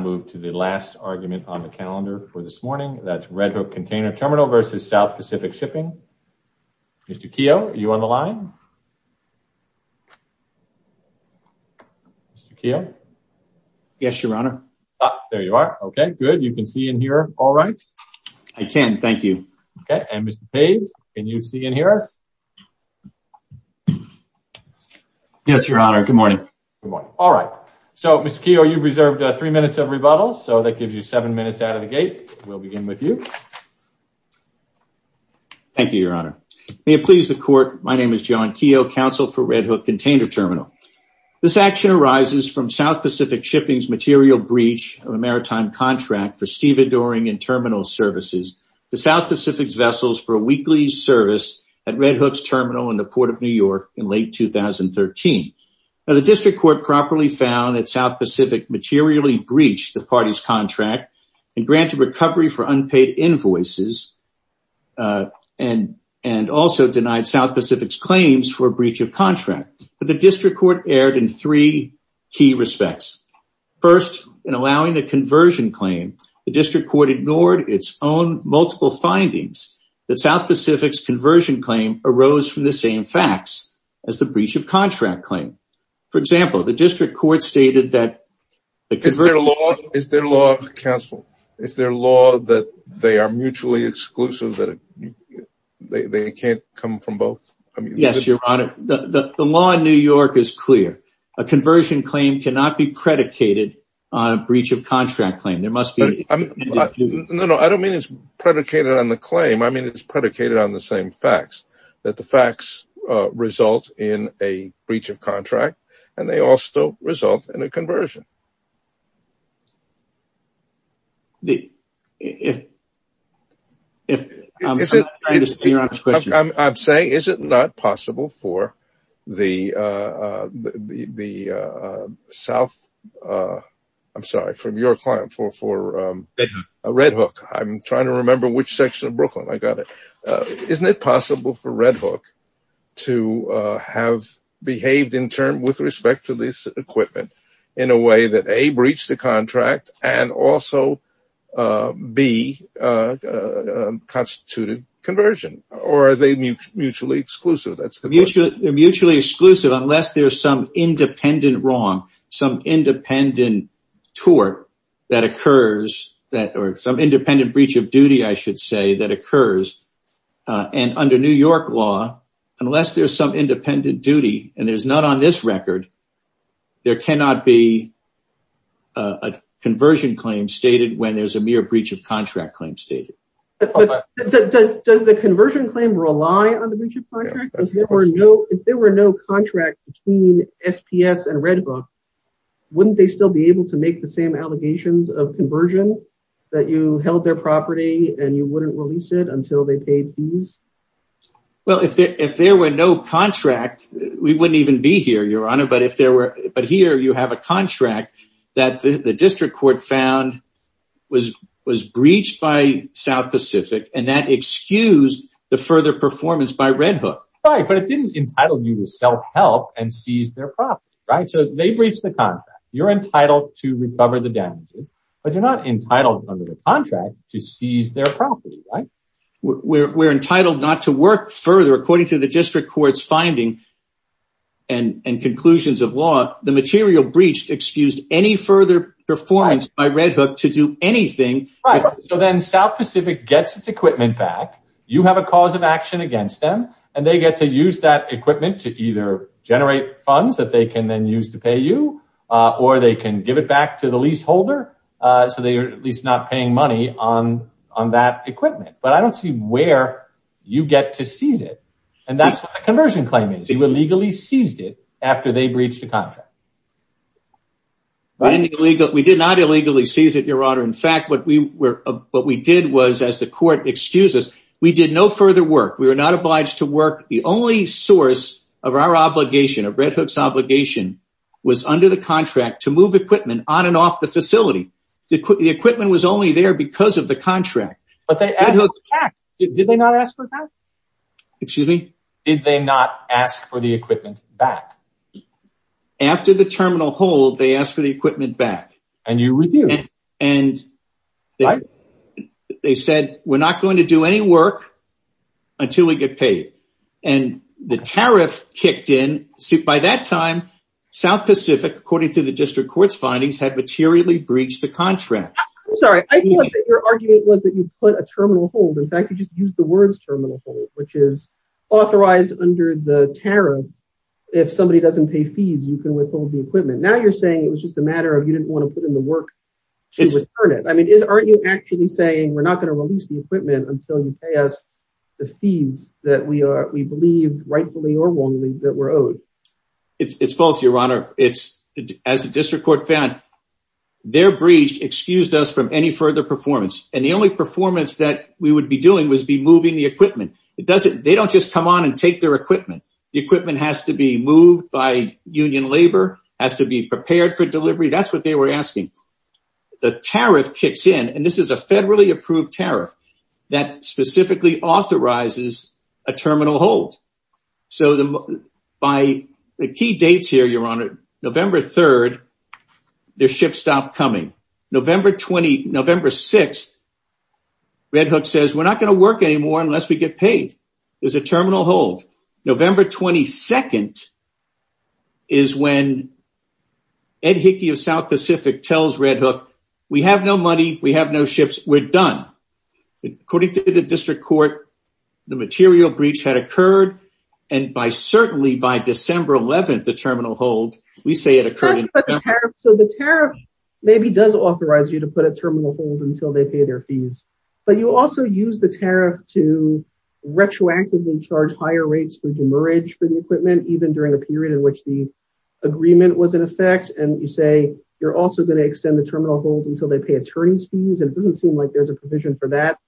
move to the last argument on the calendar for this morning that's Red Hook Container Terminal versus South Pacific Shipping. Mr. Keough are you on the line? Mr. Keough? Yes your honor. There you are okay good you can see and hear all right. I can thank you. Okay and Mr. Page can you see and hear us? Yes your honor good morning. All right so Mr. Keough you've reserved three minutes of rebuttal so that gives you seven minutes out of the gate. We'll begin with you. Thank you your honor. May it please the court my name is John Keough counsel for Red Hook Container Terminal. This action arises from South Pacific Shipping's material breach of a maritime contract for Steven Doring and Terminal Services the South Pacific's vessels for a weekly service at Red Hook's terminal in the Port of New York in late 2013. Now the district court properly found that South Pacific materially breached the party's contract and granted recovery for unpaid invoices and and also denied South Pacific's claims for a breach of contract but the district court erred in three key respects. First in allowing the conversion claim the district court ignored its own multiple findings that South Pacific's conversion claim arose from the same facts as the breach of contract. Is there a law counsel is there law that they are mutually exclusive that they can't come from both? Yes your honor the law in New York is clear a conversion claim cannot be predicated on a breach of contract claim there must be. No no I don't mean it's predicated on the claim I mean it's predicated on the same facts that the facts result in a breach of contract and they also result in a conversion. I'm saying is it not possible for the the South I'm sorry from your client for a Red Hook I'm trying to remember which section of Brooklyn I got it isn't it possible for Red Hook to have behaved in respect to this equipment in a way that a breach the contract and also be constituted conversion or are they mutually exclusive that's the mutual mutually exclusive unless there's some independent wrong some independent tort that occurs that or some independent breach of duty I should say that occurs and under New York law unless there's some independent duty and there's not on this record there cannot be a conversion claim stated when there's a mere breach of contract claim stated. Does the conversion claim rely on the breach of contract? If there were no contract between SPS and Red Hook wouldn't they still be able to make the same allegations of conversion that you held their property and you wouldn't release it until they paid fees? Well if there were no contract we wouldn't even be here your honor but if there were but here you have a contract that the district court found was was breached by South Pacific and that excused the further performance by Red Hook. Right but it didn't entitle you to self-help and seize their property right so they breached the contract you're entitled to recover the damages but you're not entitled under the contract to seize their property right? We're entitled not to work further according to the district courts finding and and conclusions of law the material breached excused any further performance by Red Hook to do anything. Right so then South Pacific gets its equipment back you have a cause of action against them and they get to use that equipment to either generate funds that they can then use to pay you or they can give it back to the leaseholder so they are at least not paying money on on that equipment but I get to seize it and that's what the conversion claim is you illegally seized it after they breached the contract. We did not illegally seize it your honor in fact what we were what we did was as the court excuses we did no further work we were not obliged to work the only source of our obligation of Red Hook's obligation was under the contract to move equipment on and off the facility the equipment was only there because of the contract. But they asked for a tax. Did they not ask for a tax? Excuse me? Did they not ask for the equipment back? After the terminal hold they asked for the equipment back. And you refused. And they said we're not going to do any work until we get paid and the tariff kicked in by that time South Pacific according to the district courts findings had materially breached the contract. I'm sorry I thought that your argument was that you put a terminal hold in fact you just used the terminal hold which is authorized under the tariff if somebody doesn't pay fees you can withhold the equipment now you're saying it was just a matter of you didn't want to put in the work to return it I mean is aren't you actually saying we're not going to release the equipment until you pay us the fees that we are we believed rightfully or wrongly that were owed. It's false your honor it's as a district court found their breach excused us from any further performance and the only performance that we would be doing was be moving the equipment it doesn't they don't just come on and take their equipment the equipment has to be moved by union labor has to be prepared for delivery that's what they were asking the tariff kicks in and this is a federally approved tariff that specifically authorizes a terminal hold so the by the key dates here your honor November 3rd their ship stopped coming November 20 November 6 Red Hook says we're not going to work anymore unless we get paid there's a terminal hold November 22nd is when Ed Hickey of South Pacific tells Red Hook we have no money we have no ships we're done according to the district court the material breach had occurred and by December 11th the terminal hold we say it occurred so the tariff maybe does authorize you to put a terminal hold until they pay their fees but you also use the tariff to retroactively charge higher rates for demerge for the equipment even during a period in which the agreement was in effect and you say you're also going to extend the terminal hold until they pay attorneys fees and it doesn't seem like there's a provision for that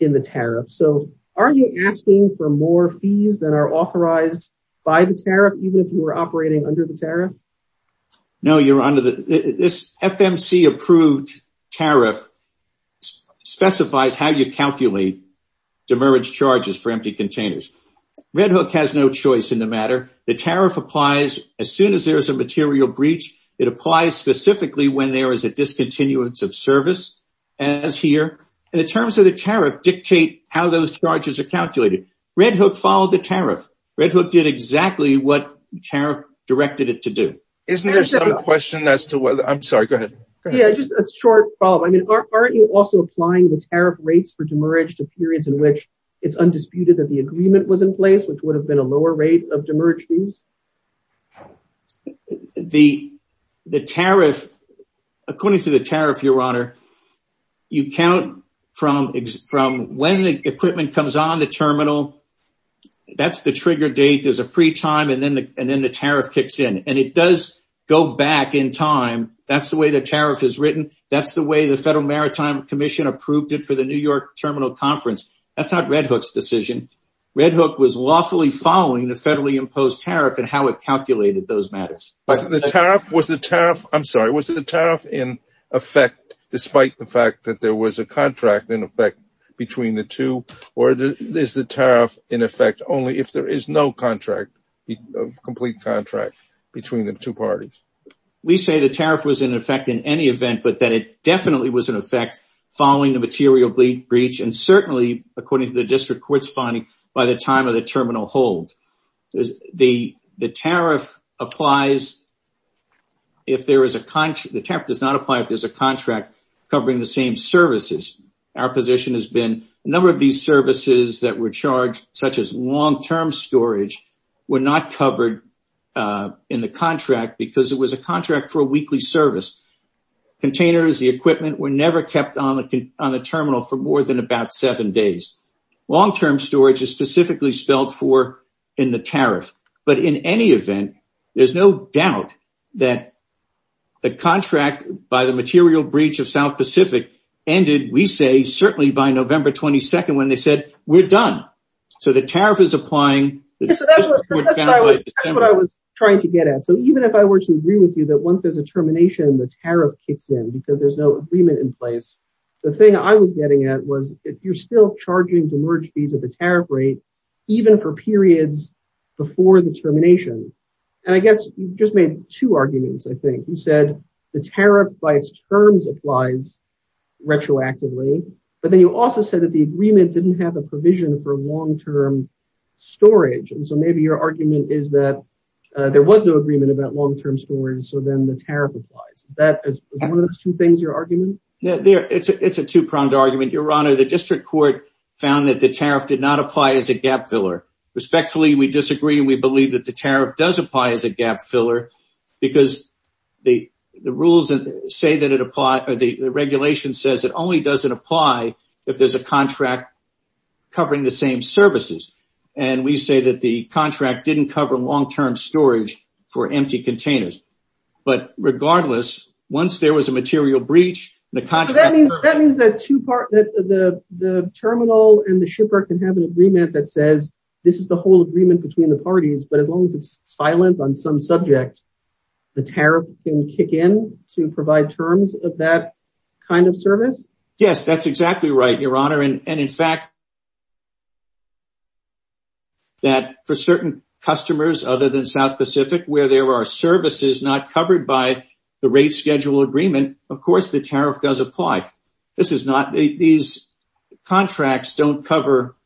in the tariff so are you asking for more fees that are authorized by the tariff even if you were operating under the tariff no you're under the this FMC approved tariff specifies how you calculate demerge charges for empty containers Red Hook has no choice in the matter the tariff applies as soon as there is a material breach it applies specifically when there is a discontinuance of service as here and in so the tariff dictate how those charges are calculated Red Hook followed the tariff Red Hook did exactly what the tariff directed it to do isn't there some question as to whether I'm sorry go ahead yeah just a short problem I mean aren't you also applying the tariff rates for demerge to periods in which it's undisputed that the agreement was in place which would have been a lower rate of demerge fees the the tariff according to the tariff your honor you from from when the equipment comes on the terminal that's the trigger date there's a free time and then the and then the tariff kicks in and it does go back in time that's the way the tariff is written that's the way the Federal Maritime Commission approved it for the New York Terminal Conference that's not Red Hook's decision Red Hook was lawfully following the federally imposed tariff and how it calculated those matters the tariff was the tariff I'm effect between the two or there's the tariff in effect only if there is no contract complete contract between the two parties we say the tariff was in effect in any event but that it definitely was in effect following the material bleed breach and certainly according to the district court's finding by the time of the terminal hold the the tariff applies if there is a country the tariff does not apply if there's a contract covering the same services our position has been a number of these services that were charged such as long-term storage were not covered in the contract because it was a contract for a weekly service containers the equipment were never kept on the on the terminal for more than about seven days long-term storage is specifically spelled for in the tariff but in any event there's no doubt that the contract by the material breach of South Pacific ended we say certainly by November 22nd when they said we're done so the tariff is applying what I was trying to get at so even if I were to agree with you that once there's a termination the tariff kicks in because there's no agreement in place the thing I was getting at was if you're still charging to merge fees at the tariff rate even for periods before the termination and I guess you just made two arguments I think you said the tariff by its terms applies retroactively but then you also said that the agreement didn't have a provision for long-term storage and so maybe your argument is that there was no agreement about long-term storage so then the tariff applies that is one of those two things your argument yeah there it's a it's a two-pronged argument your honor the district court found that the tariff did not apply as a gap filler respectfully we disagree and we believe that the tariff does apply as a gap filler because the the rules that say that it apply or the regulation says it only doesn't apply if there's a contract covering the same services and we say that the contract didn't cover long-term storage for empty containers but regardless once there was a material breach the contract that means that the terminal and the shipper can have an agreement between the parties but as long as it's silent on some subject the tariff can kick in to provide terms of that kind of service yes that's exactly right your honor and in fact that for certain customers other than South Pacific where there are services not covered by the rate schedule agreement of course the tariff does apply this is not these contracts don't cover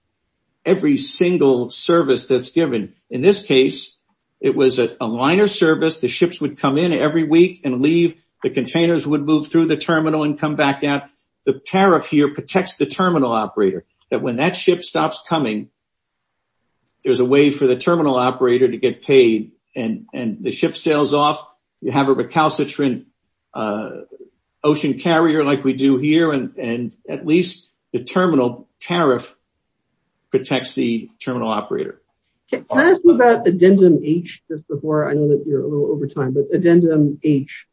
every single service that's given in this case it was a liner service the ships would come in every week and leave the containers would move through the terminal and come back out the tariff here protects the terminal operator that when that ship stops coming there's a way for the terminal operator to get paid and and the ship sails off you have a recalcitrant ocean carrier like we do and at least the terminal tariff protects the terminal operator addendum H just before I know that you're a little over time but addendum H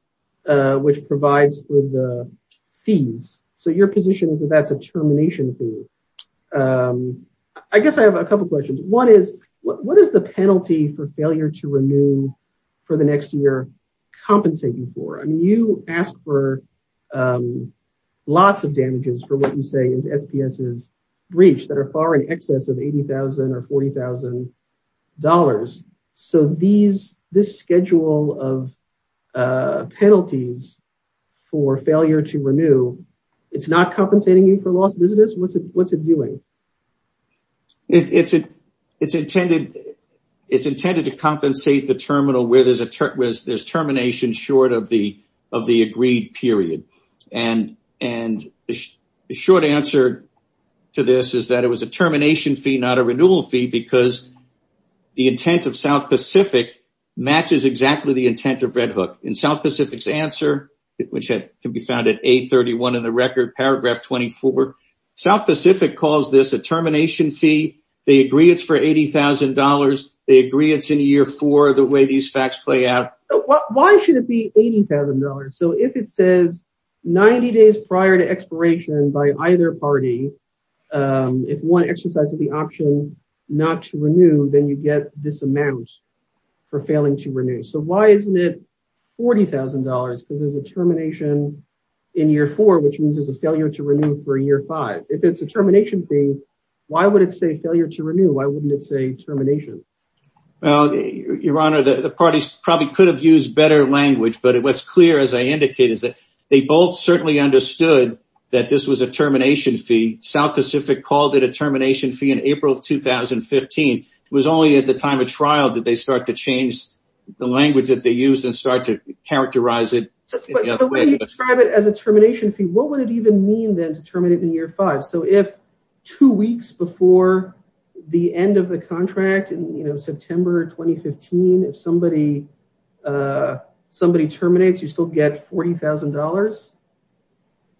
which provides for the fees so your position is that that's a termination fee I guess I have a couple questions one is what is the penalty for failure to renew for the lots of damages for what you say is SPS's breach that are far in excess of 80,000 or 40,000 dollars so these this schedule of penalties for failure to renew it's not compensating you for lost business what's it what's it doing it's it it's intended it's intended to compensate the terminal where there's a there's termination short of the of the agreed period and and the short answer to this is that it was a termination fee not a renewal fee because the intent of South Pacific matches exactly the intent of Red Hook in South Pacific's answer which had can be found at a 31 in the record paragraph 24 South Pacific calls this a termination fee they agree it's for $80,000 they agree it's in a year for the way these facts play out why should it be $80,000 so if it says 90 days prior to expiration by either party if one exercise of the option not to renew then you get this amount for failing to renew so why isn't it $40,000 because there's a termination in year four which means there's a failure to renew for a year five if it's a termination fee why would it say well your honor the parties probably could have used better language but it was clear as I indicated that they both certainly understood that this was a termination fee South Pacific called it a termination fee in April of 2015 it was only at the time of trial did they start to change the language that they use and start to characterize it as a termination fee what would it even mean then to terminate in year five so if two weeks before the end of the contract and you know September 2015 if somebody somebody terminates you still get $40,000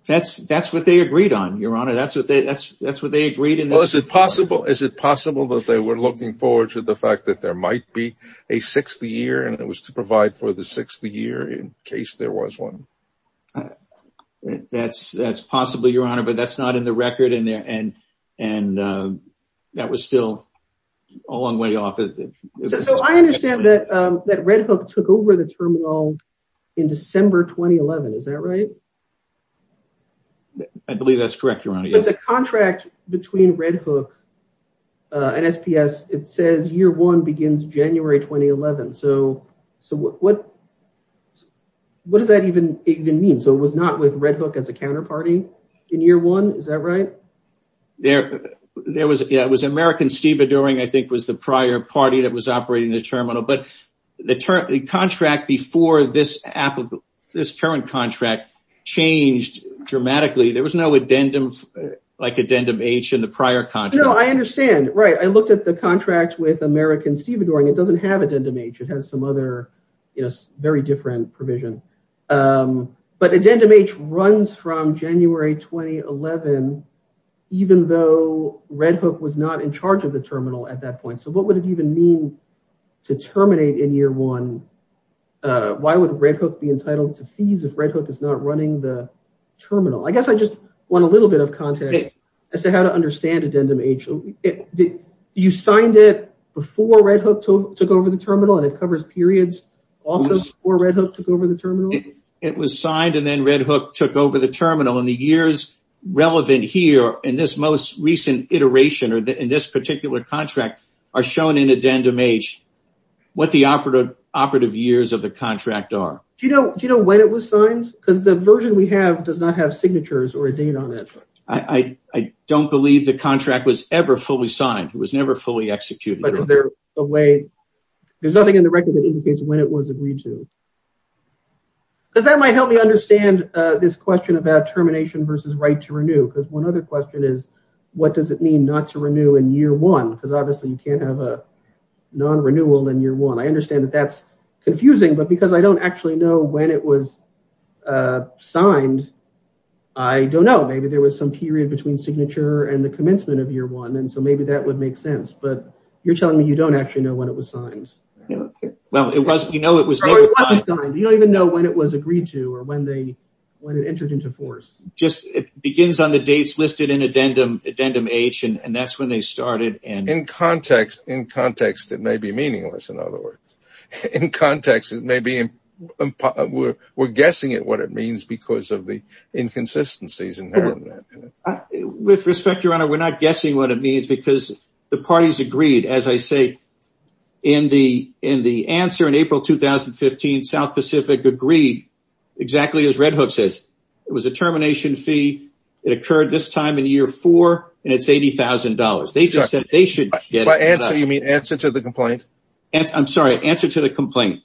that's that's what they agreed on your honor that's what they that's that's what they agreed and was it possible is it possible that they were looking forward to the fact that there might be a sixth year and it was to provide for the sixth the year in case there was one that's that's possibly your honor but that's not in the record in there and and that was still a long way off I understand that that Red Hook took over the terminal in December 2011 is that right I believe that's correct your honor yes a contract between Red Hook and SPS it says year one begins January 2011 so so what what does that even even mean so it was not with Red Hook as a counterparty in year one is that right there there was it was American steve adoring I think was the prior party that was operating the terminal but the term the contract before this app of this current contract changed dramatically there was no addendum like addendum H in the prior time no I understand right I looked at the contract with American steve adoring it doesn't have addendum H it has some other you know very different provision but addendum H runs from January 2011 even though Red Hook was not in charge of the terminal at that point so what would it even mean to terminate in year one why would Red Hook be entitled to fees if Red Hook is not running the terminal I guess I just want a little bit of content as to how to understand addendum H you signed it before Red Hook took over the terminal and it covers periods also or Red Hook took over the terminal it was signed and then Red Hook took over the terminal and the years relevant here in this most recent iteration or that in this particular contract are shown in addendum H what the operative operative years of the contract are do you know do you know when it was signed because the version we have does not have signatures or a date on it I I don't believe the contract was ever fully signed it was never fully executed but is there a way there's nothing in the record that indicates when it was agreed to does that might help me understand this question about termination versus right to renew because one other question is what does it mean not to renew in year one because obviously you can't have a non renewal in year one I understand that that's confusing but because I don't actually know when it was signed I don't know maybe there was some period between signature and the commencement of year one and so maybe that would make sense but you're telling me you don't actually know when it was signed well it was you know it was you don't even know when it was agreed to or when they when it entered into force just it begins on the dates listed in addendum addendum H and that's when they started and in context in context it may be meaningless in other words in context it may be in we're guessing at what it means because of the inconsistencies inherent with respect your honor we're not guessing what it means because the parties agreed as I say in the in the answer in April 2015 South Pacific agreed exactly as Red Hook says it was a termination fee it occurred this time in year four and it's $80,000 they just said they should get my answer you mean answer to the complaint and I'm sorry answer to the complaint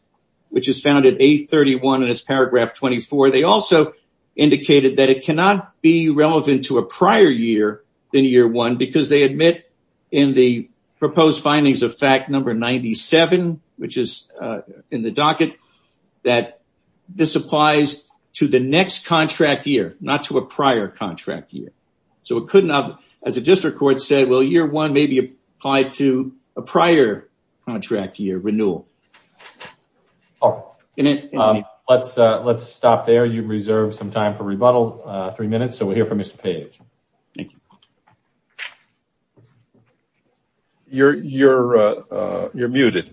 which is found at a 31 and it's paragraph 24 they also indicated that it cannot be relevant to a prior year than year one because they admit in the proposed findings of fact number 97 which is in the docket that this applies to the next contract year not to a prior contract year so it could not as a district court said well year one may be applied to a prior contract year renewal oh let's let's stop there you reserve some time for rebuttal three minutes so we're here for mr. page thank you you're you're you're muted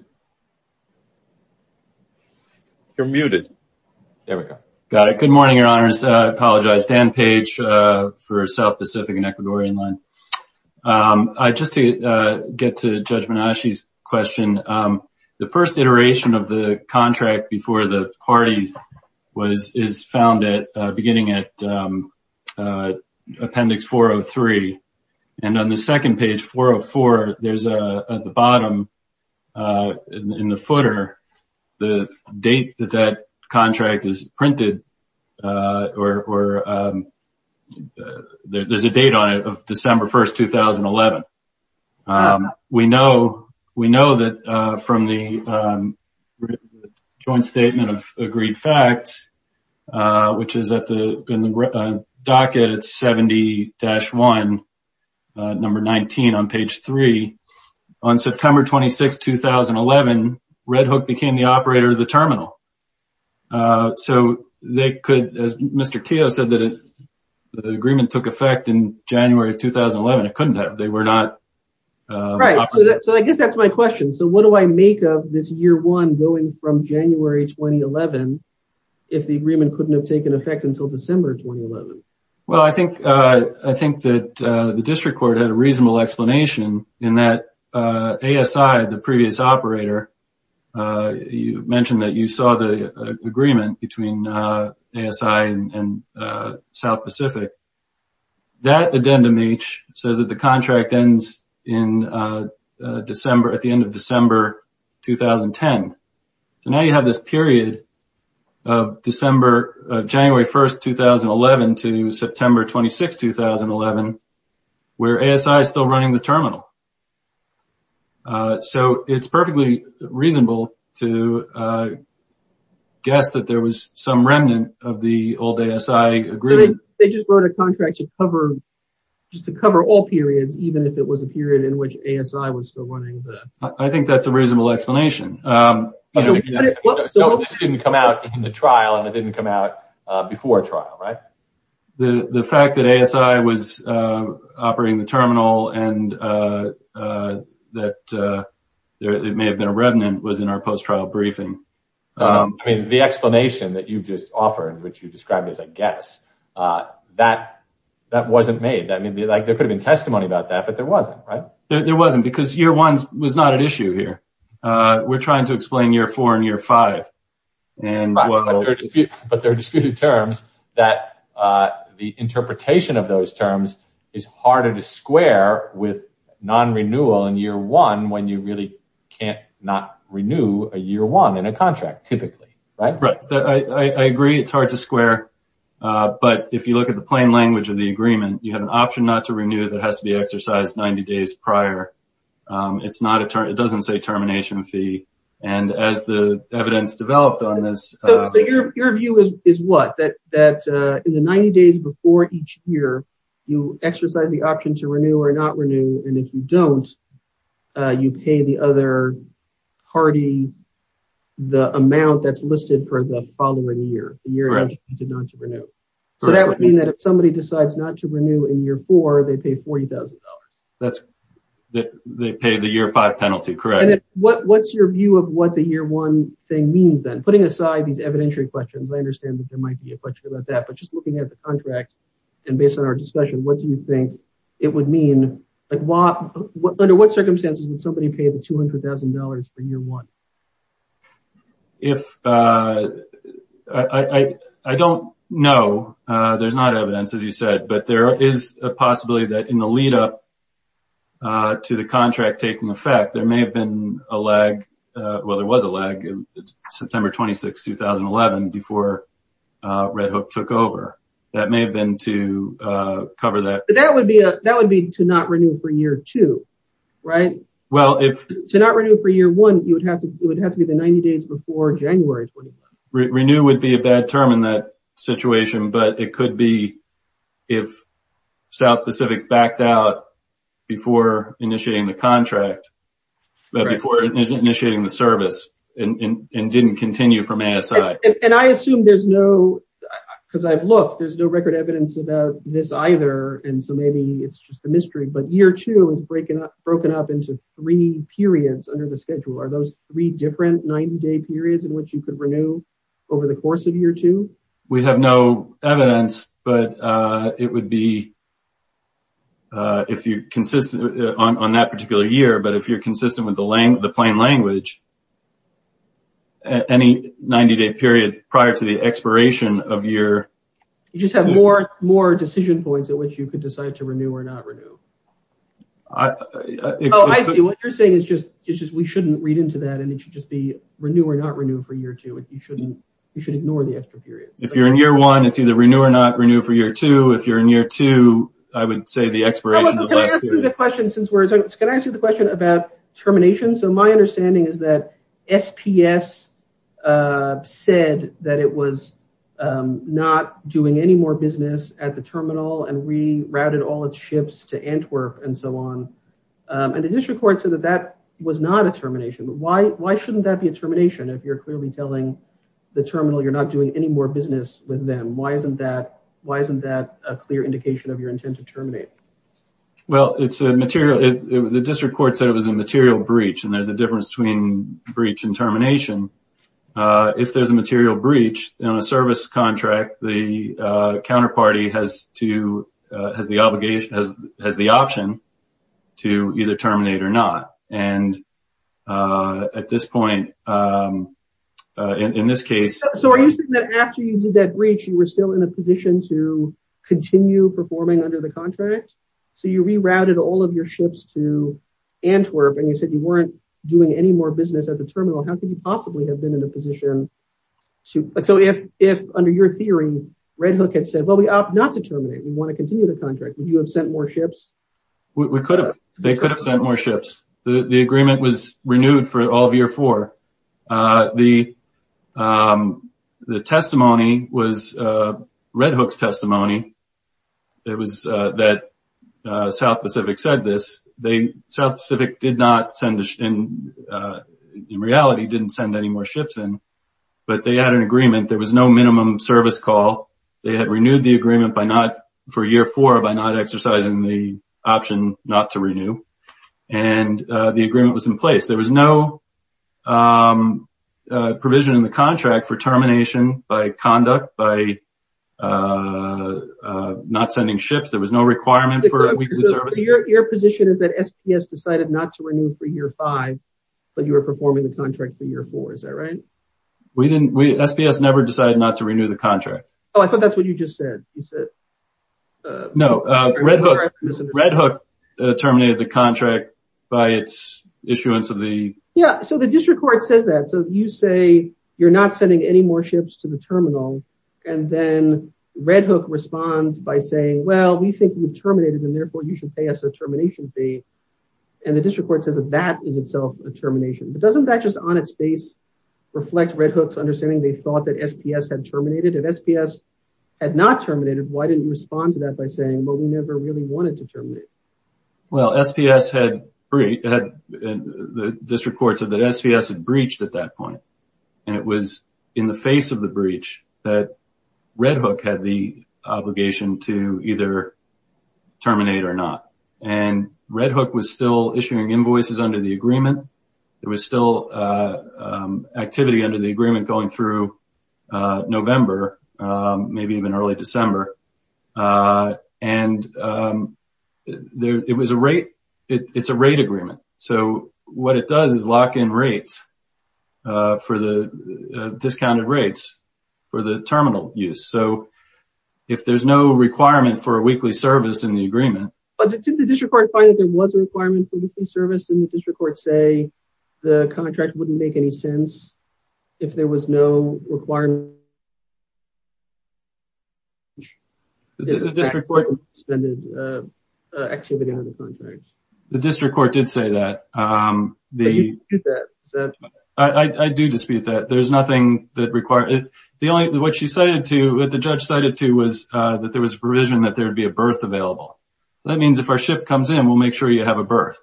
you're muted there we go got it good morning your apologize Dan page for South Pacific and Ecuadorian line I just to get to judgment on she's question the first iteration of the contract before the parties was is found at beginning at appendix 403 and on the second page 404 there's a at the bottom in the footer the date that that contract is printed or there's a date on it of December 1st 2011 we know we know that from the joint statement of agreed facts which is at the in the docket it's 70-1 number 19 on page 3 on September 26 2011 Red Hook became the operator of the terminal so they could as mr. Teo said that if the agreement took effect in January 2011 it couldn't have they were not right so I guess that's my question so what do I make of this year one going from January 2011 if the agreement couldn't have taken effect until December 2011 well I think I think that the district court had a reasonable explanation in that a aside the previous operator you mentioned that you saw the agreement between ASI and South Pacific that addendum each says that the contract ends in December at the end of December 2010 so now you have this period of December January 1st 2011 to September 26 2011 where ASI is running the terminal so it's perfectly reasonable to guess that there was some remnant of the old ASI agreement they just wrote a contract to cover just to cover all periods even if it was a period in which ASI was still running I think that's a reasonable explanation didn't come out in the trial and it didn't come out before trial right the the fact that ASI was operating the that it may have been a remnant was in our post trial briefing I mean the explanation that you've just offered which you described as I guess that that wasn't made that maybe like there could have been testimony about that but there wasn't right there wasn't because year one was not an issue here we're trying to explain year four and year five and but they're disputed terms that the non-renewal in year one when you really can't not renew a year one in a contract typically right right I agree it's hard to square but if you look at the plain language of the agreement you have an option not to renew that has to be exercised 90 days prior it's not a turn it doesn't say termination fee and as the evidence developed on this your view is what that that in the 90 days before each year you exercise the option to renew or not renew and if you don't you pay the other party the amount that's listed for the following year you're going to not to renew so that would mean that if somebody decides not to renew in year four they pay $40,000 that's that they pay the year five penalty correct what what's your view of what the year one thing means then putting aside these evidentiary questions I understand that there might be a question about that but just looking at the contract and based on our discussion what do you think it would mean like what under what circumstances would somebody pay the $200,000 for year one if I I don't know there's not evidence as you said but there is a possibility that in the lead-up to the contract taking effect there may have been a lag well there was a lag in September 26 2011 before Red that may have been to cover that that would be a that would be to not renew for year two right well if to not renew for year one you would have to it would have to be the 90 days before January renew would be a bad term in that situation but it could be if South Pacific backed out before initiating the contract before initiating the service and didn't continue from ASI and I there's no record evidence about this either and so maybe it's just a mystery but year two is breaking up broken up into three periods under the schedule are those three different 90 day periods in which you could renew over the course of year two we have no evidence but it would be if you consistent on that particular year but if you're consistent with the lane of the plain language any 90-day period prior to the expiration of year you just have more more decision points at which you could decide to renew or not renew you're saying is just it's just we shouldn't read into that and it should just be renew or not renew for year two if you shouldn't you should ignore the extra period if you're in year one it's either renew or not renew for year two if you're in year two I would say the expiration of the question since words said that it was not doing any more business at the terminal and rerouted all its ships to Antwerp and so on and the district court said that that was not a termination but why why shouldn't that be a termination if you're clearly telling the terminal you're not doing any more business with them why isn't that why isn't that a clear indication of your intent to terminate well it's a material the district court said it was a material breach and there's a if there's a material breach on a service contract the counterparty has to has the obligation as the option to either terminate or not and at this point in this case so are you saying that after you did that breach you were still in a position to continue performing under the contract so you rerouted all of your ships to Antwerp and you said you weren't doing any more business at the terminal how could you possibly have been in a position to but so if if under your theory Red Hook had said well we opt not to terminate we want to continue the contract would you have sent more ships we could have they could have sent more ships the agreement was renewed for all of year four the the testimony was Red Hook's testimony it was that South Pacific said this they South Pacific did not send us in in reality didn't send any more ships in but they had an agreement there was no minimum service call they had renewed the agreement by not for year four by not exercising the option not to renew and the agreement was in place there was no provision in the contract for termination by conduct by not sending ships there was no requirement for a SPS decided not to renew for year five but you were performing the contract for year four is that right we didn't we SPS never decided not to renew the contract oh I thought that's what you just said you said no Red Hook terminated the contract by its issuance of the yeah so the district court says that so you say you're not sending any more ships to the terminal and then Red Hook responds by saying well we think we've terminated and therefore you should pay us a and the district court says that that is itself a termination but doesn't that just on its face reflect Red Hook's understanding they thought that SPS had terminated if SPS had not terminated why didn't you respond to that by saying well we never really wanted to terminate well SPS had three had the district courts of that SPS had breached at that point and it was in the face of the breach that Red Hook had the obligation to either terminate or not and Red Hook was still issuing invoices under the agreement there was still activity under the agreement going through November maybe even early December and there it was a rate it's a rate agreement so what it does is lock in rates for the discounted rates for the terminal use so if there's no requirement for a weekly service in the agreement but didn't the district court find that there was a requirement to be serviced in the district court say the contract wouldn't make any sense if there was no requirement the district court did say that the I do dispute that there's nothing that required it the only what she cited to that the judge cited to was that there is provision that there would be a birth available that means if our ship comes in we'll make sure you have a birth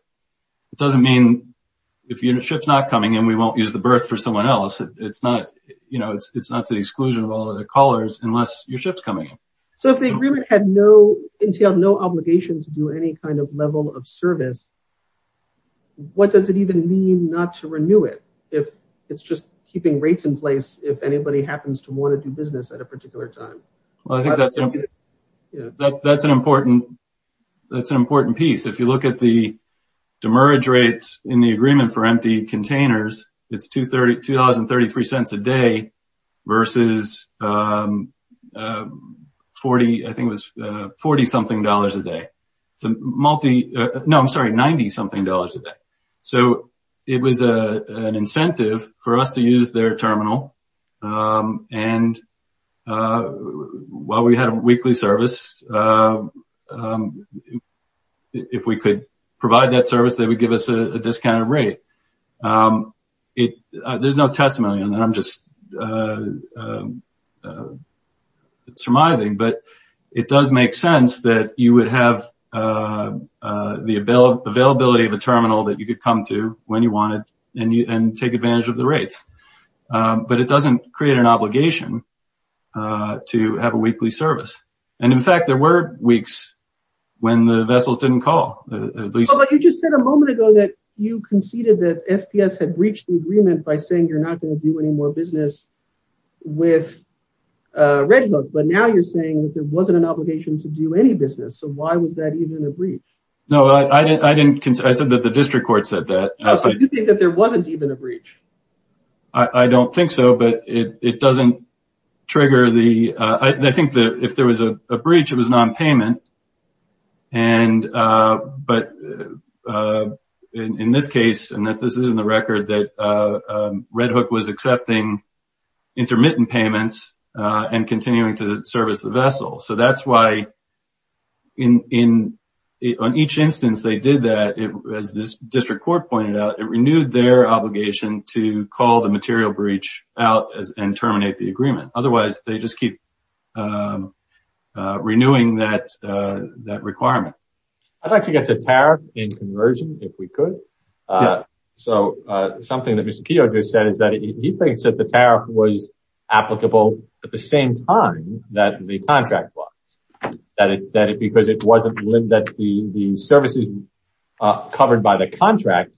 it doesn't mean if you know ships not coming and we won't use the birth for someone else it's not you know it's it's not the exclusion of all the callers unless your ships coming so if the agreement had no entailed no obligation to do any kind of level of service what does it even mean not to renew it if it's just keeping rates in place if anybody happens to want to do business at a particular time well I that's an important that's an important piece if you look at the demerge rates in the agreement for empty containers it's two thirty two thousand thirty three cents a day versus 40 I think was 40 something dollars a day so multi no I'm sorry 90 something dollars a day so it was a an incentive for us to use their terminal and while we had a weekly service if we could provide that service they would give us a discounted rate it there's no testimony on that I'm just surmising but it does make sense that you would have the ability of a terminal that you could come to when you wanted and you and take advantage of the rates but it doesn't create an obligation to have a weekly service and in fact there were weeks when the vessels didn't call you just said a moment ago that you conceded that SPS had breached the agreement by saying you're not going to do any more business with red hook but now you're saying that there wasn't an obligation to do any business so why was that even a breach no I didn't consider that the district court said that there wasn't even a I don't think so but it doesn't trigger the I think that if there was a breach it was non-payment and but in this case and that this isn't the record that red hook was accepting intermittent payments and continuing to service the vessel so that's why in in on each instance they did that it was this district court pointed out it renewed their obligation to call the material breach out as and terminate the agreement otherwise they just keep renewing that that requirement I'd like to get the tariff in conversion if we could yeah so something that mr. Keogh just said is that he thinks that the tariff was applicable at the same time that the contract was that it said it because it wasn't live that the the services covered by the contract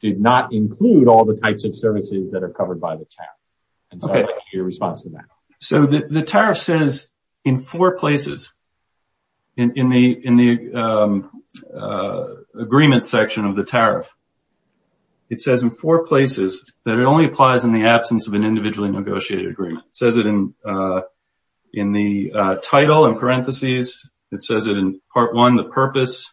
did not include all the types of services that are covered by the town okay your response to that so that the tariff says in four places in the in the agreement section of the tariff it says in four places that it only applies in the absence of an individually negotiated agreement says it in in the title and parentheses it says it in part one the purpose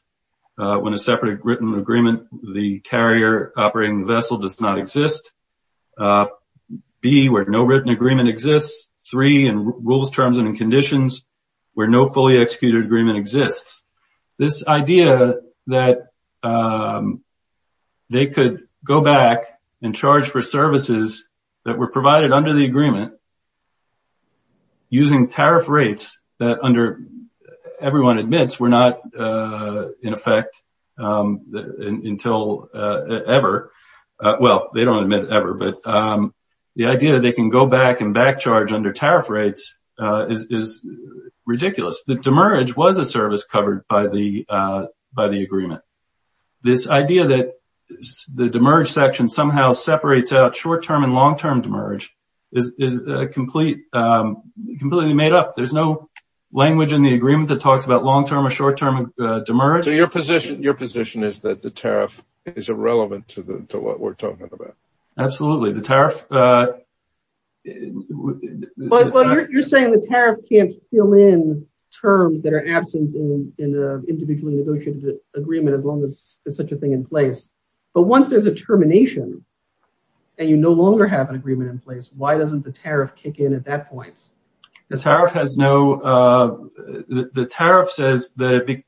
when a separate written agreement the carrier operating vessel does not exist be where no written agreement exists three and rules terms and conditions where no fully executed agreement exists this idea that they could go back and charge for services that were provided under the agreement using tariff rates that under everyone admits we're not in effect until ever well they don't admit ever but the idea they can go back and back charge under tariff rates is ridiculous the demerge was a service covered by the by the agreement this idea that the demerge section somehow separates out short term and long term demerge is a complete completely made up there's no language in the agreement that talks about long term or short term and demerge your position your position is that the tariff is irrelevant to the to what we're talking about absolutely the tariff you're saying the tariff can't fill in terms that are absent in individually negotiated agreement as long as there's such a thing in place but once there's a agreement in place why doesn't the tariff kick in at that point the tariff has no the tariff says that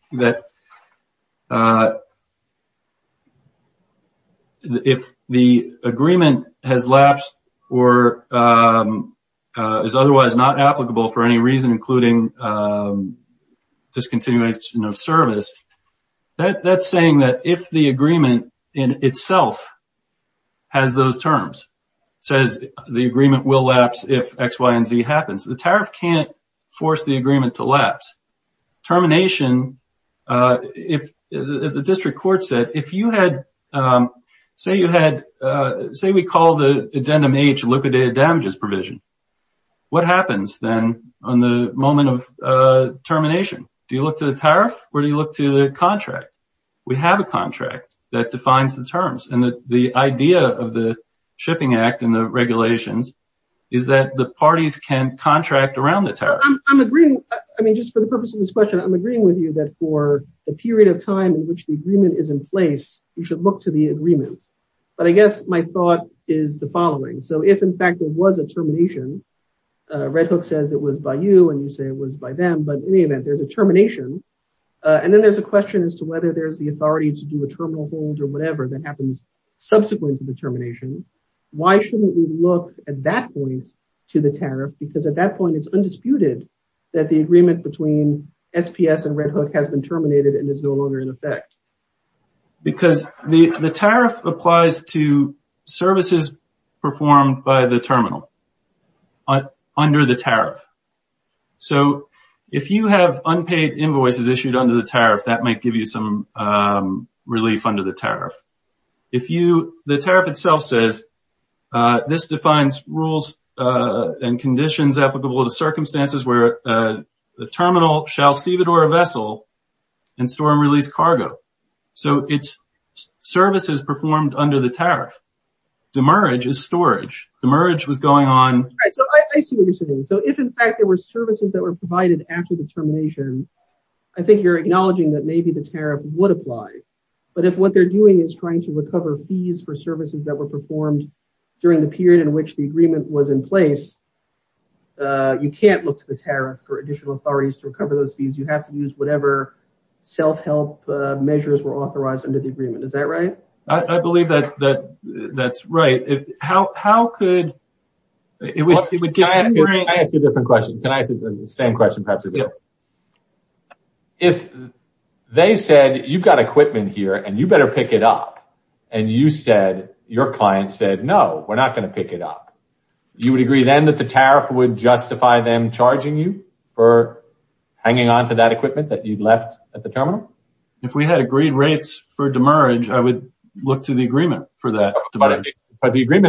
if the agreement has lapsed or is otherwise not applicable for any reason including discontinuation of service that that's that if the agreement in itself has those terms says the agreement will lapse if X Y & Z happens the tariff can't force the agreement to lapse termination if the district court said if you had say you had say we call the addendum age liquidated damages provision what happens then on the moment of we have a contract that defines the terms and the idea of the shipping act and the regulations is that the parties can contract around the tariff I'm agreeing I mean just for the purpose of this question I'm agreeing with you that for a period of time in which the agreement is in place you should look to the agreement but I guess my thought is the following so if in fact it was a termination Red Hook says it was by you and you say it was by them but in any there's a termination and then there's a question as to whether there's the authority to do a terminal hold or whatever that happens subsequent to the termination why shouldn't we look at that point to the tariff because at that point it's undisputed that the agreement between SPS and Red Hook has been terminated and is no longer in effect because the the tariff applies to unpaid invoices issued under the tariff that might give you some relief under the tariff if you the tariff itself says this defines rules and conditions applicable to circumstances where the terminal shall steve it or a vessel and store and release cargo so it's services performed under the tariff demerge is storage the merge was going on so if in fact there were services that were provided after the termination I think you're acknowledging that maybe the tariff would apply but if what they're doing is trying to recover fees for services that were performed during the period in which the agreement was in place you can't look to the tariff for additional authorities to recover those fees you have to use whatever self-help measures were authorized under the agreement is that right I believe that that that's right how could if they said you've got equipment here and you better pick it up and you said your client said no we're not going to pick it up you would agree then that the tariff would justify them charging you for hanging on to that equipment that you'd left at the terminal if we had agreed rates for agreement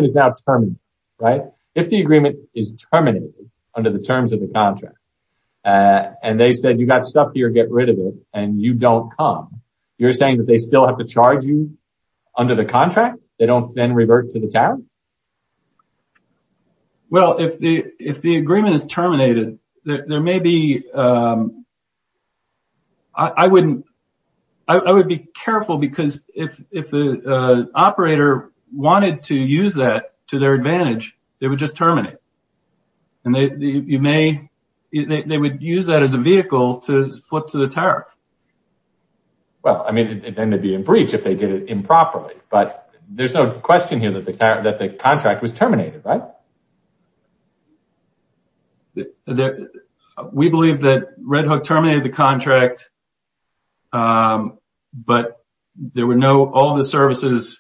is now term right if the agreement is terminated under the terms of the contract and they said you got stuff here get rid of it and you don't come you're saying that they still have to charge you under the contract they don't then revert to the town well if the if the agreement is terminated that there may be I wouldn't I would be careful because if the operator wanted to use that to their advantage they would just terminate and they you may they would use that as a vehicle to flip to the tariff well I mean it ended be a breach if they did it improperly but there's no question here that the character that the contract was terminated right that we believe that Red Hook terminated the contract but there were no all the services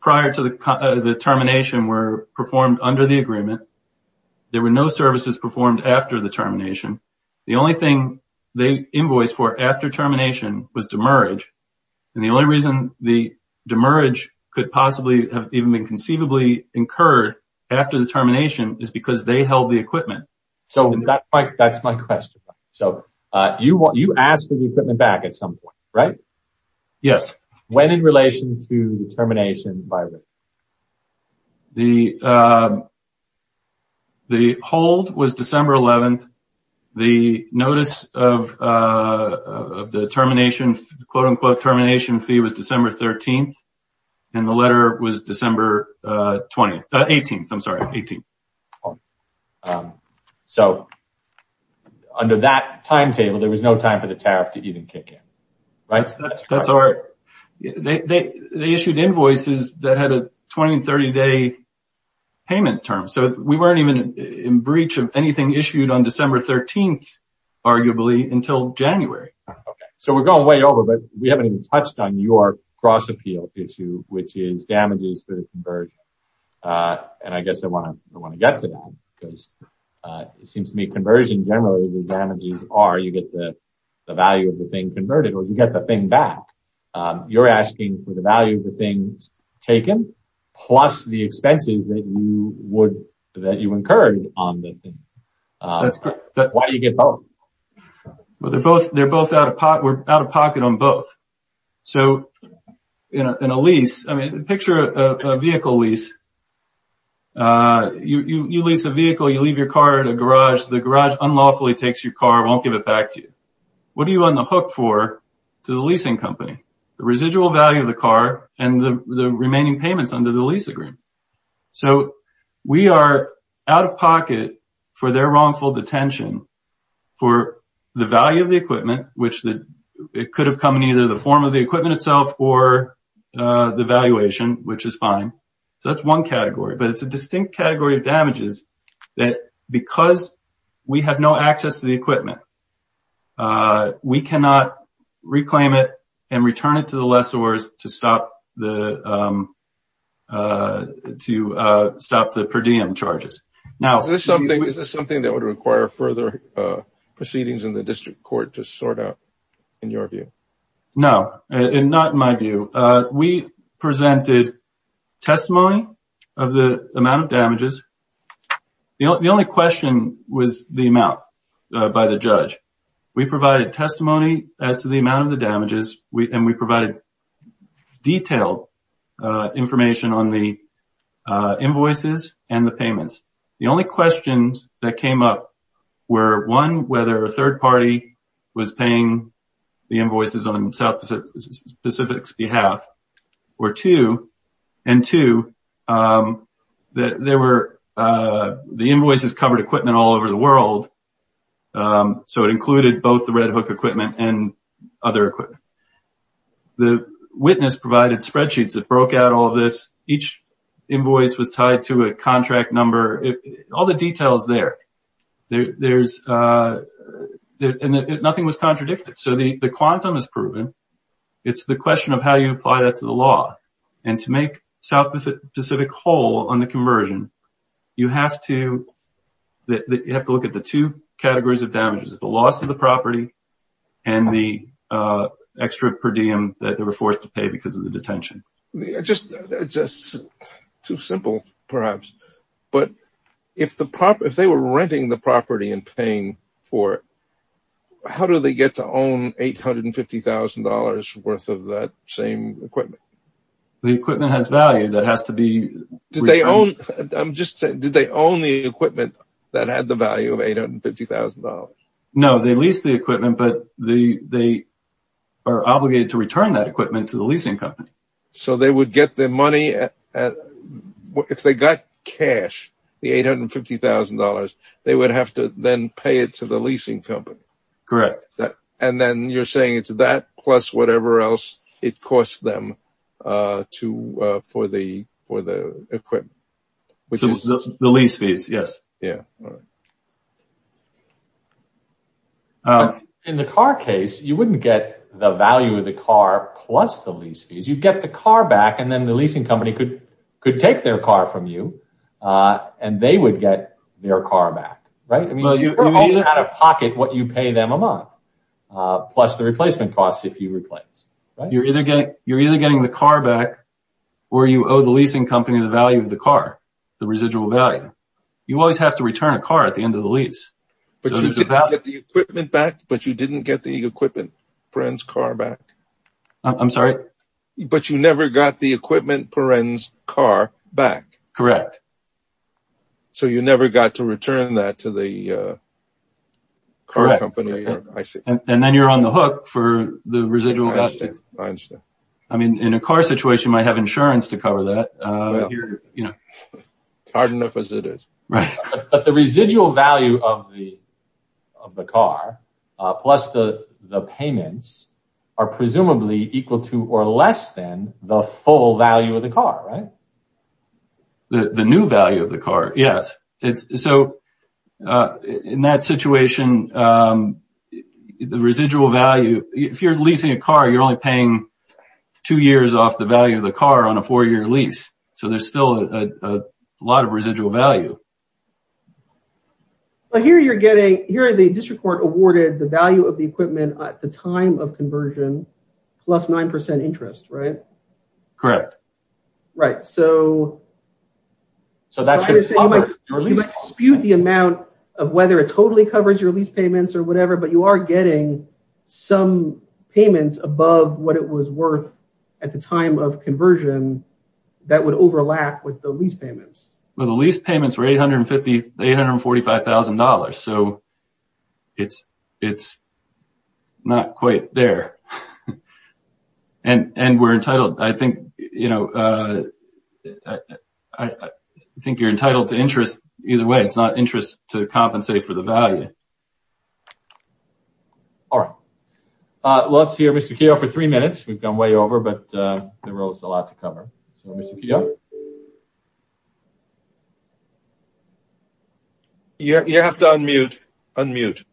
prior to the the termination were performed under the agreement there were no services performed after the termination the only thing they invoice for after termination was demerge and the only reason the demerge could possibly have even been conceivably incurred after the termination is because they held the equipment so that's like that's my question so you want you asked for the equipment back at some point right yes when in relation to the termination by the the hold was December 11th the notice of the termination quote-unquote termination fee was December 13th and the letter was December 18th I'm sorry 18 so under that timetable there was no time for the tariff to even kick in right that's all right they issued invoices that had a 20 and 30 day payment term so we weren't even in breach of anything issued on December 13th arguably until January okay so we're going way over but we damages for the conversion and I guess I want to I want to get to that because it seems to me conversion generally the damages are you get the value of the thing converted or you get the thing back you're asking for the value of the things taken plus the expenses that you would that you incurred on this that's good but why do you get both well they're both they're both out of pot we're out of pocket on both so you know in a lease I mean picture a vehicle lease you lease a vehicle you leave your car at a garage the garage unlawfully takes your car won't give it back to you what do you run the hook for to the leasing company the residual value of the car and the remaining payments under the lease agreement so we are out of pocket for their wrongful detention for the value of the equipment which that it could have come in either the form of the equipment itself or the valuation which is fine so that's one category but it's a distinct category of damages that because we have no access to the equipment we cannot reclaim it and return it to the lessors to stop the to stop the per diem charges now there's something is this something that would require further proceedings in the district court to sort out in your view no and not in my view we presented testimony of the amount of damages you know the only question was the amount by the judge we provided testimony as to the amount of the damages we and we provided detailed information on the invoices and the payments the only questions that came up were one whether a third party was paying the invoices on South Pacific's behalf or two and two that there were the invoices covered equipment all over the world so it included both the Red Hook equipment and other equipment the witness provided spreadsheets that broke out all this each invoice was tied to a contract number all the details there there's nothing was contradicted so the the quantum is proven it's the question of how you apply that to the law and to make South Pacific whole on the conversion you have to that you have to look at the two categories of damages the loss of the property and the extra per diem that they were forced to pay because of the detention just just too simple perhaps but if the prop if they were renting the property and paying for how do they get to own eight hundred and fifty thousand dollars worth of that same equipment the equipment has value that has to be did they own I'm just did they own the equipment that had the value of eight hundred fifty thousand dollars no they lease the equipment but the they are obligated to return that equipment to the leasing company so they would get their money at what if they got cash the eight hundred fifty thousand dollars they would have to then pay it to the leasing company correct that and then you're saying it's that plus whatever else it costs them to for the for the equipment which is the lease fees yes yeah in the car case you wouldn't get the value of the car plus the lease fees you get the car back and then the leasing company could could take their car from you and they would get their car back right I mean out of pocket what you pay them a month plus the replacement costs if you replace you're either getting you're either getting the car back or you owe the you always have to return a car at the end of the lease but you didn't get the equipment friends car back I'm sorry but you never got the equipment parents car back correct so you never got to return that to the correct and then you're on the hook for the residual I mean in a car situation might have insurance to hard enough as it is right but the residual value of the of the car plus the the payments are presumably equal to or less than the full value of the car right the the new value of the car yes it's so in that situation the residual value if you're leasing a car you're only paying two years off the value of the car on a four-year lease so there's still a lot of residual value but here you're getting here the district court awarded the value of the equipment at the time of conversion plus nine percent interest right correct right so so that should be the amount of whether it totally covers your lease payments or whatever but you are getting some payments above what it was worth at the time of conversion that would overlap with the lease payments well the lease payments were eight hundred and fifty eight hundred and forty five thousand dollars so it's it's not quite there and and we're entitled I think you know I think you're entitled to interest either way it's not interest to compensate for the value all right let's hear mr. Keogh for three minutes we've gone way over but there was a lot to cover yeah you have to unmute unmute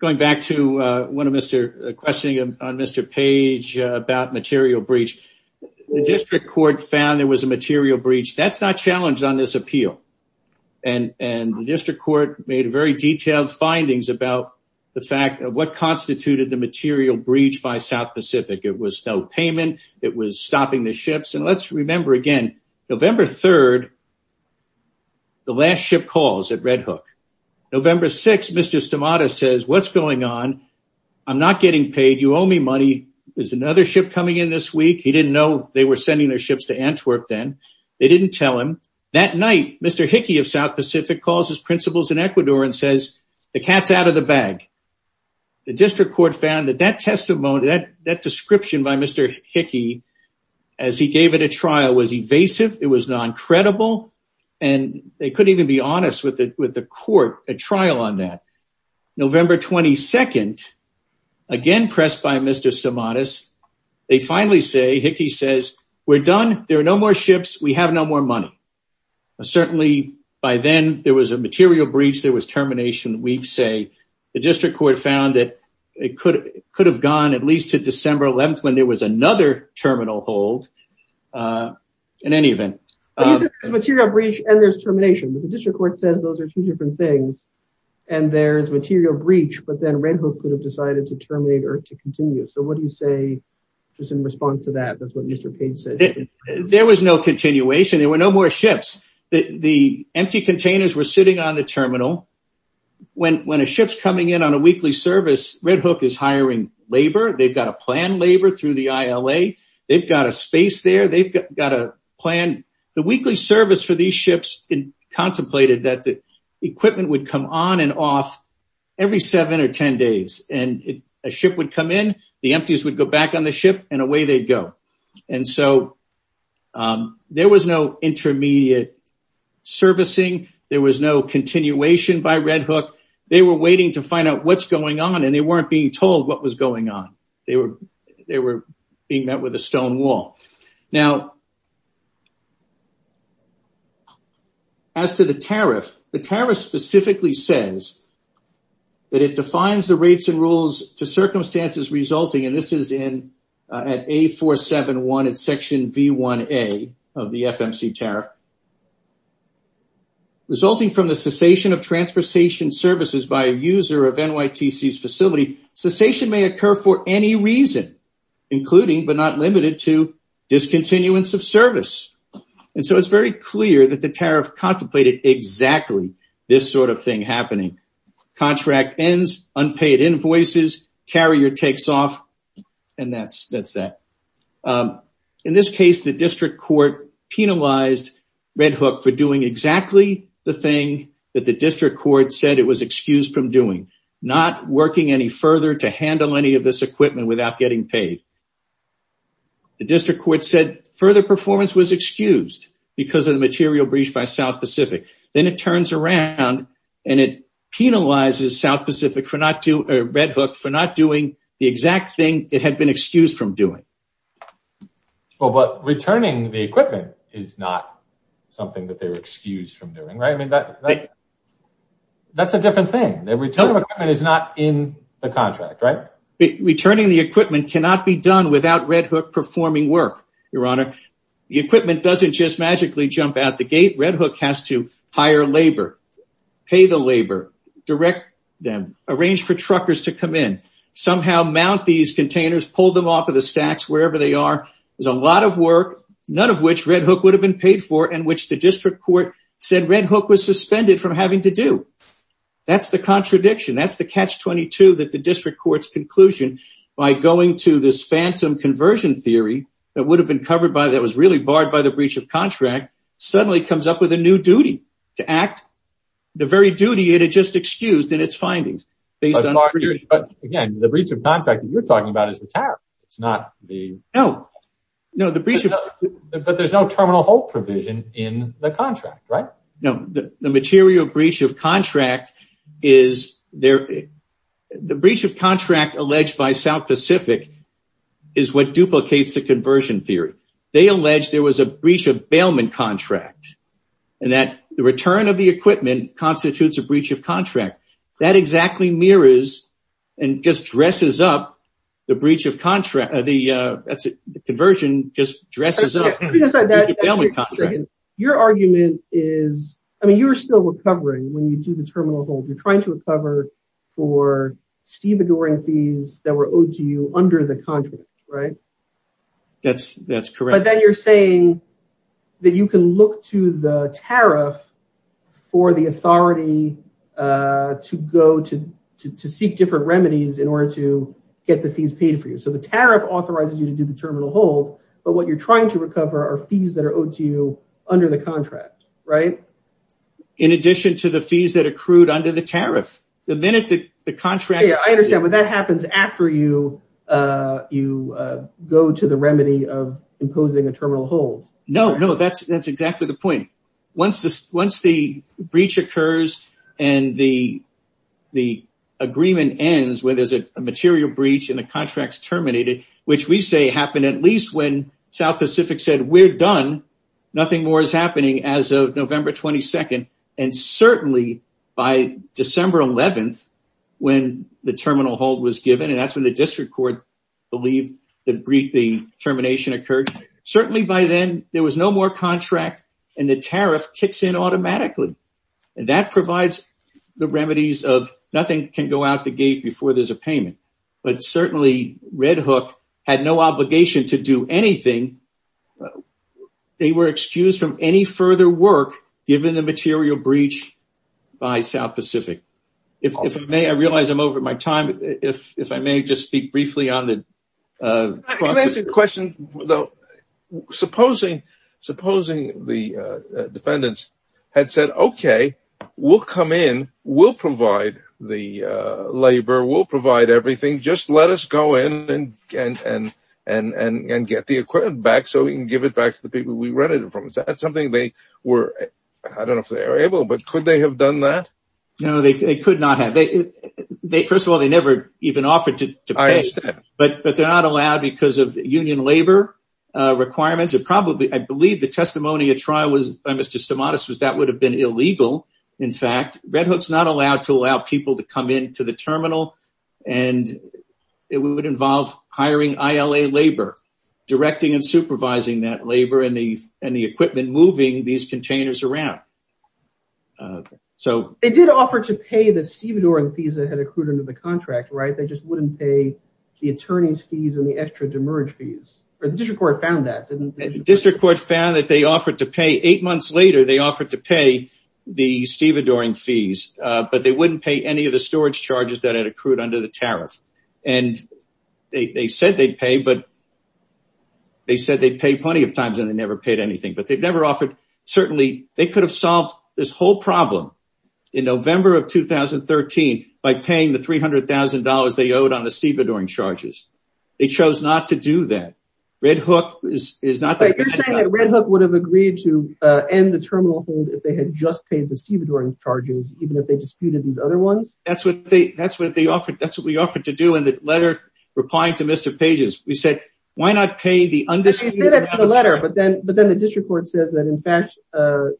going back to one of mr. questioning on mr. page about material breach the district court found there was a material breach that's not challenged on this appeal and and the district court found findings about the fact of what constituted the material breach by South Pacific it was no payment it was stopping the ships and let's remember again November 3rd the last ship calls at Red Hook November 6 mr. stomata says what's going on I'm not getting paid you owe me money there's another ship coming in this week he didn't know they were sending their ships to Antwerp then they didn't tell him that night mr. Hickey of South Pacific causes principles in Ecuador and says the cats out of the bag the district court found that that testimony that that description by mr. Hickey as he gave it a trial was evasive it was non-credible and they couldn't even be honest with it with the court a trial on that November 22nd again pressed by mr. stomata's they finally say Hickey says we're done there are no more ships we have no more money certainly by then there was a material breach there was termination we'd say the district court found that it could could have gone at least to December 11th when there was another terminal hold in any event and there's termination the district court says those are two different things and there's material breach but then Red Hook could have decided to terminate or to continue so what do you say just in response to that that's what continuation there were no more ships the empty containers were sitting on the terminal when when a ship's coming in on a weekly service Red Hook is hiring labor they've got a plan labor through the ILA they've got a space there they've got a plan the weekly service for these ships in contemplated that the equipment would come on and off every seven or ten days and a ship would come in the empties would go back on the ship and away they'd go and so there was no intermediate servicing there was no continuation by Red Hook they were waiting to find out what's going on and they weren't being told what was going on they were they were being met with a stone wall now as to the tariff the tariff specifically says that it defines the rates and rules to circumstances resulting and this is in at a 471 at section v1a of the FMC tariff resulting from the cessation of transportation services by a user of NYTC's facility cessation may occur for any reason including but not limited to discontinuance of service and so it's very clear that the tariff contemplated exactly this sort of thing happening contract ends unpaid invoices carrier takes off and that's that's that in this case the district court penalized Red Hook for doing exactly the thing that the district court said it was excused from doing not working any further to handle any of this equipment without getting paid the district court said further performance was excused because of the material breached by South Pacific then it turns around and it penalizes South Pacific for not to Red Hook for not doing the exact thing it had been excused from doing well but returning the equipment is not something that they were excused from doing right I mean that that's a different thing that return of equipment is not in the contract right returning the equipment cannot be done without Red Hook performing work your honor the equipment doesn't just magically jump out the gate Red Hook has to hire labor pay the labor direct them arrange for truckers to come in somehow mount these containers pull them off of the stacks wherever they are there's a lot of work none of which Red Hook would have been paid for and which the district court said Red Hook was suspended from having to do that's the contradiction that's the catch-22 that the district courts conclusion by going to this phantom conversion theory that would have been covered by that was really barred by the breach of contract suddenly comes up with a new duty to act the very duty it just excused in its findings based on our years but again the breach of contract you're talking about is the tariff it's not the no no the breach of but there's no terminal hold provision in the contract right no the material breach of contract is there the breach of contract alleged by South Pacific is what duplicates the conversion theory they alleged there was a breach of bailment contract and that the return of the equipment constitutes a breach of contract that exactly mirrors and just dresses up the breach of contract the that's it the conversion just dresses up your argument is I mean you're still recovering when you do the terminal hold you're trying to recover for steve adoring fees that were owed to you under the contract right that's that's correct but then you're saying that you can look to the tariff for the authority to go to to seek different remedies in order to get the fees paid for you so the tariff authorizes you to do the terminal hold but what you're trying to recover our fees that are owed to you under the contract right in addition to the fees that accrued under the tariff the minute that the contract I understand what that happens after you you go to the remedy of imposing a terminal hold no no that's that's exactly the point once this once the breach occurs and the the agreement ends where there's a material breach and the contracts terminated which we say happened at least when South Pacific said we're done nothing more is happening as of November 22nd and certainly by December 11th when the terminal hold was given and that's when the district court believed that brief the termination occurred certainly by then there was no more contract and the tariff kicks in automatically and that provides the remedies of nothing can go out the gate before there's a payment but certainly Red Hook had no obligation to do anything they were excused from any further work given the material breach by South Pacific if I may I realize I'm over my time if I may just speak briefly on the question though supposing supposing the defendants had said okay we'll come in we'll provide the labor we'll provide everything just let us go in and and and and and get the equipment back so we can give it back to the people we rented it from it's that something they were I don't know if they're able but could they have done that no they could not have they they first of all they never even offered to but but they're not allowed because of union labor requirements it probably I believe the testimony a trial was by mr. Stamatis was that would have been illegal in fact Red Hook's not allowed to allow people to come in to the terminal and it would involve hiring ILA labor directing and supervising that labor and the and the equipment moving these containers around so it did offer to pay the stevedoring fees that had accrued under the contract right they just wouldn't pay the attorney's fees and the extra demerge fees or the district court found that didn't the district court found that they offered to pay eight months later they offered to pay the stevedoring fees but they wouldn't pay any of the storage charges that had accrued under the tariff and they said they'd pay but they said they'd pay plenty of times and they never paid anything but they've never offered certainly they could have solved this whole problem in November of 2013 by paying the $300,000 they owed on the stevedoring charges they chose not to do that Red Hook is is not that Red Hook would have agreed to end the terminal hold if they had just paid the stevedoring charges even if they disputed these other ones that's what they that's what they offered that's what we offered to do in the letter replying to mr. pages we said why not pay the letter but then but then the district court says that in fact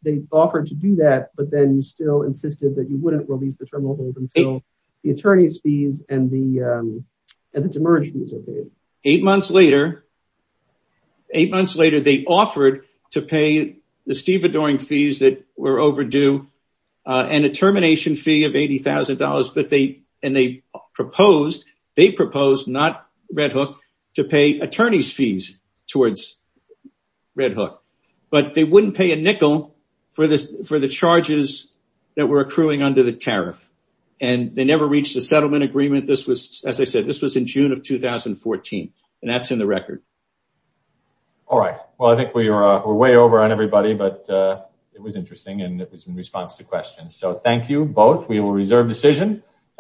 they offered to do that but then you still insisted that you wouldn't release the terminal hold until the attorneys fees and the and the demerge fees are paid. Eight months later eight months later they offered to pay the stevedoring fees that were overdue and a termination fee of $80,000 but they and they proposed they proposed not Red Hook to pay attorneys fees towards Red Hook but they wouldn't pay a nickel for this for the charges that were accruing under the tariff and they never reached a settlement agreement this was as I said this was in June of 2014 and that's in the record. All right well I think we are way over on everybody but it was interesting and it was in response to questions so thank you both we will reserve decision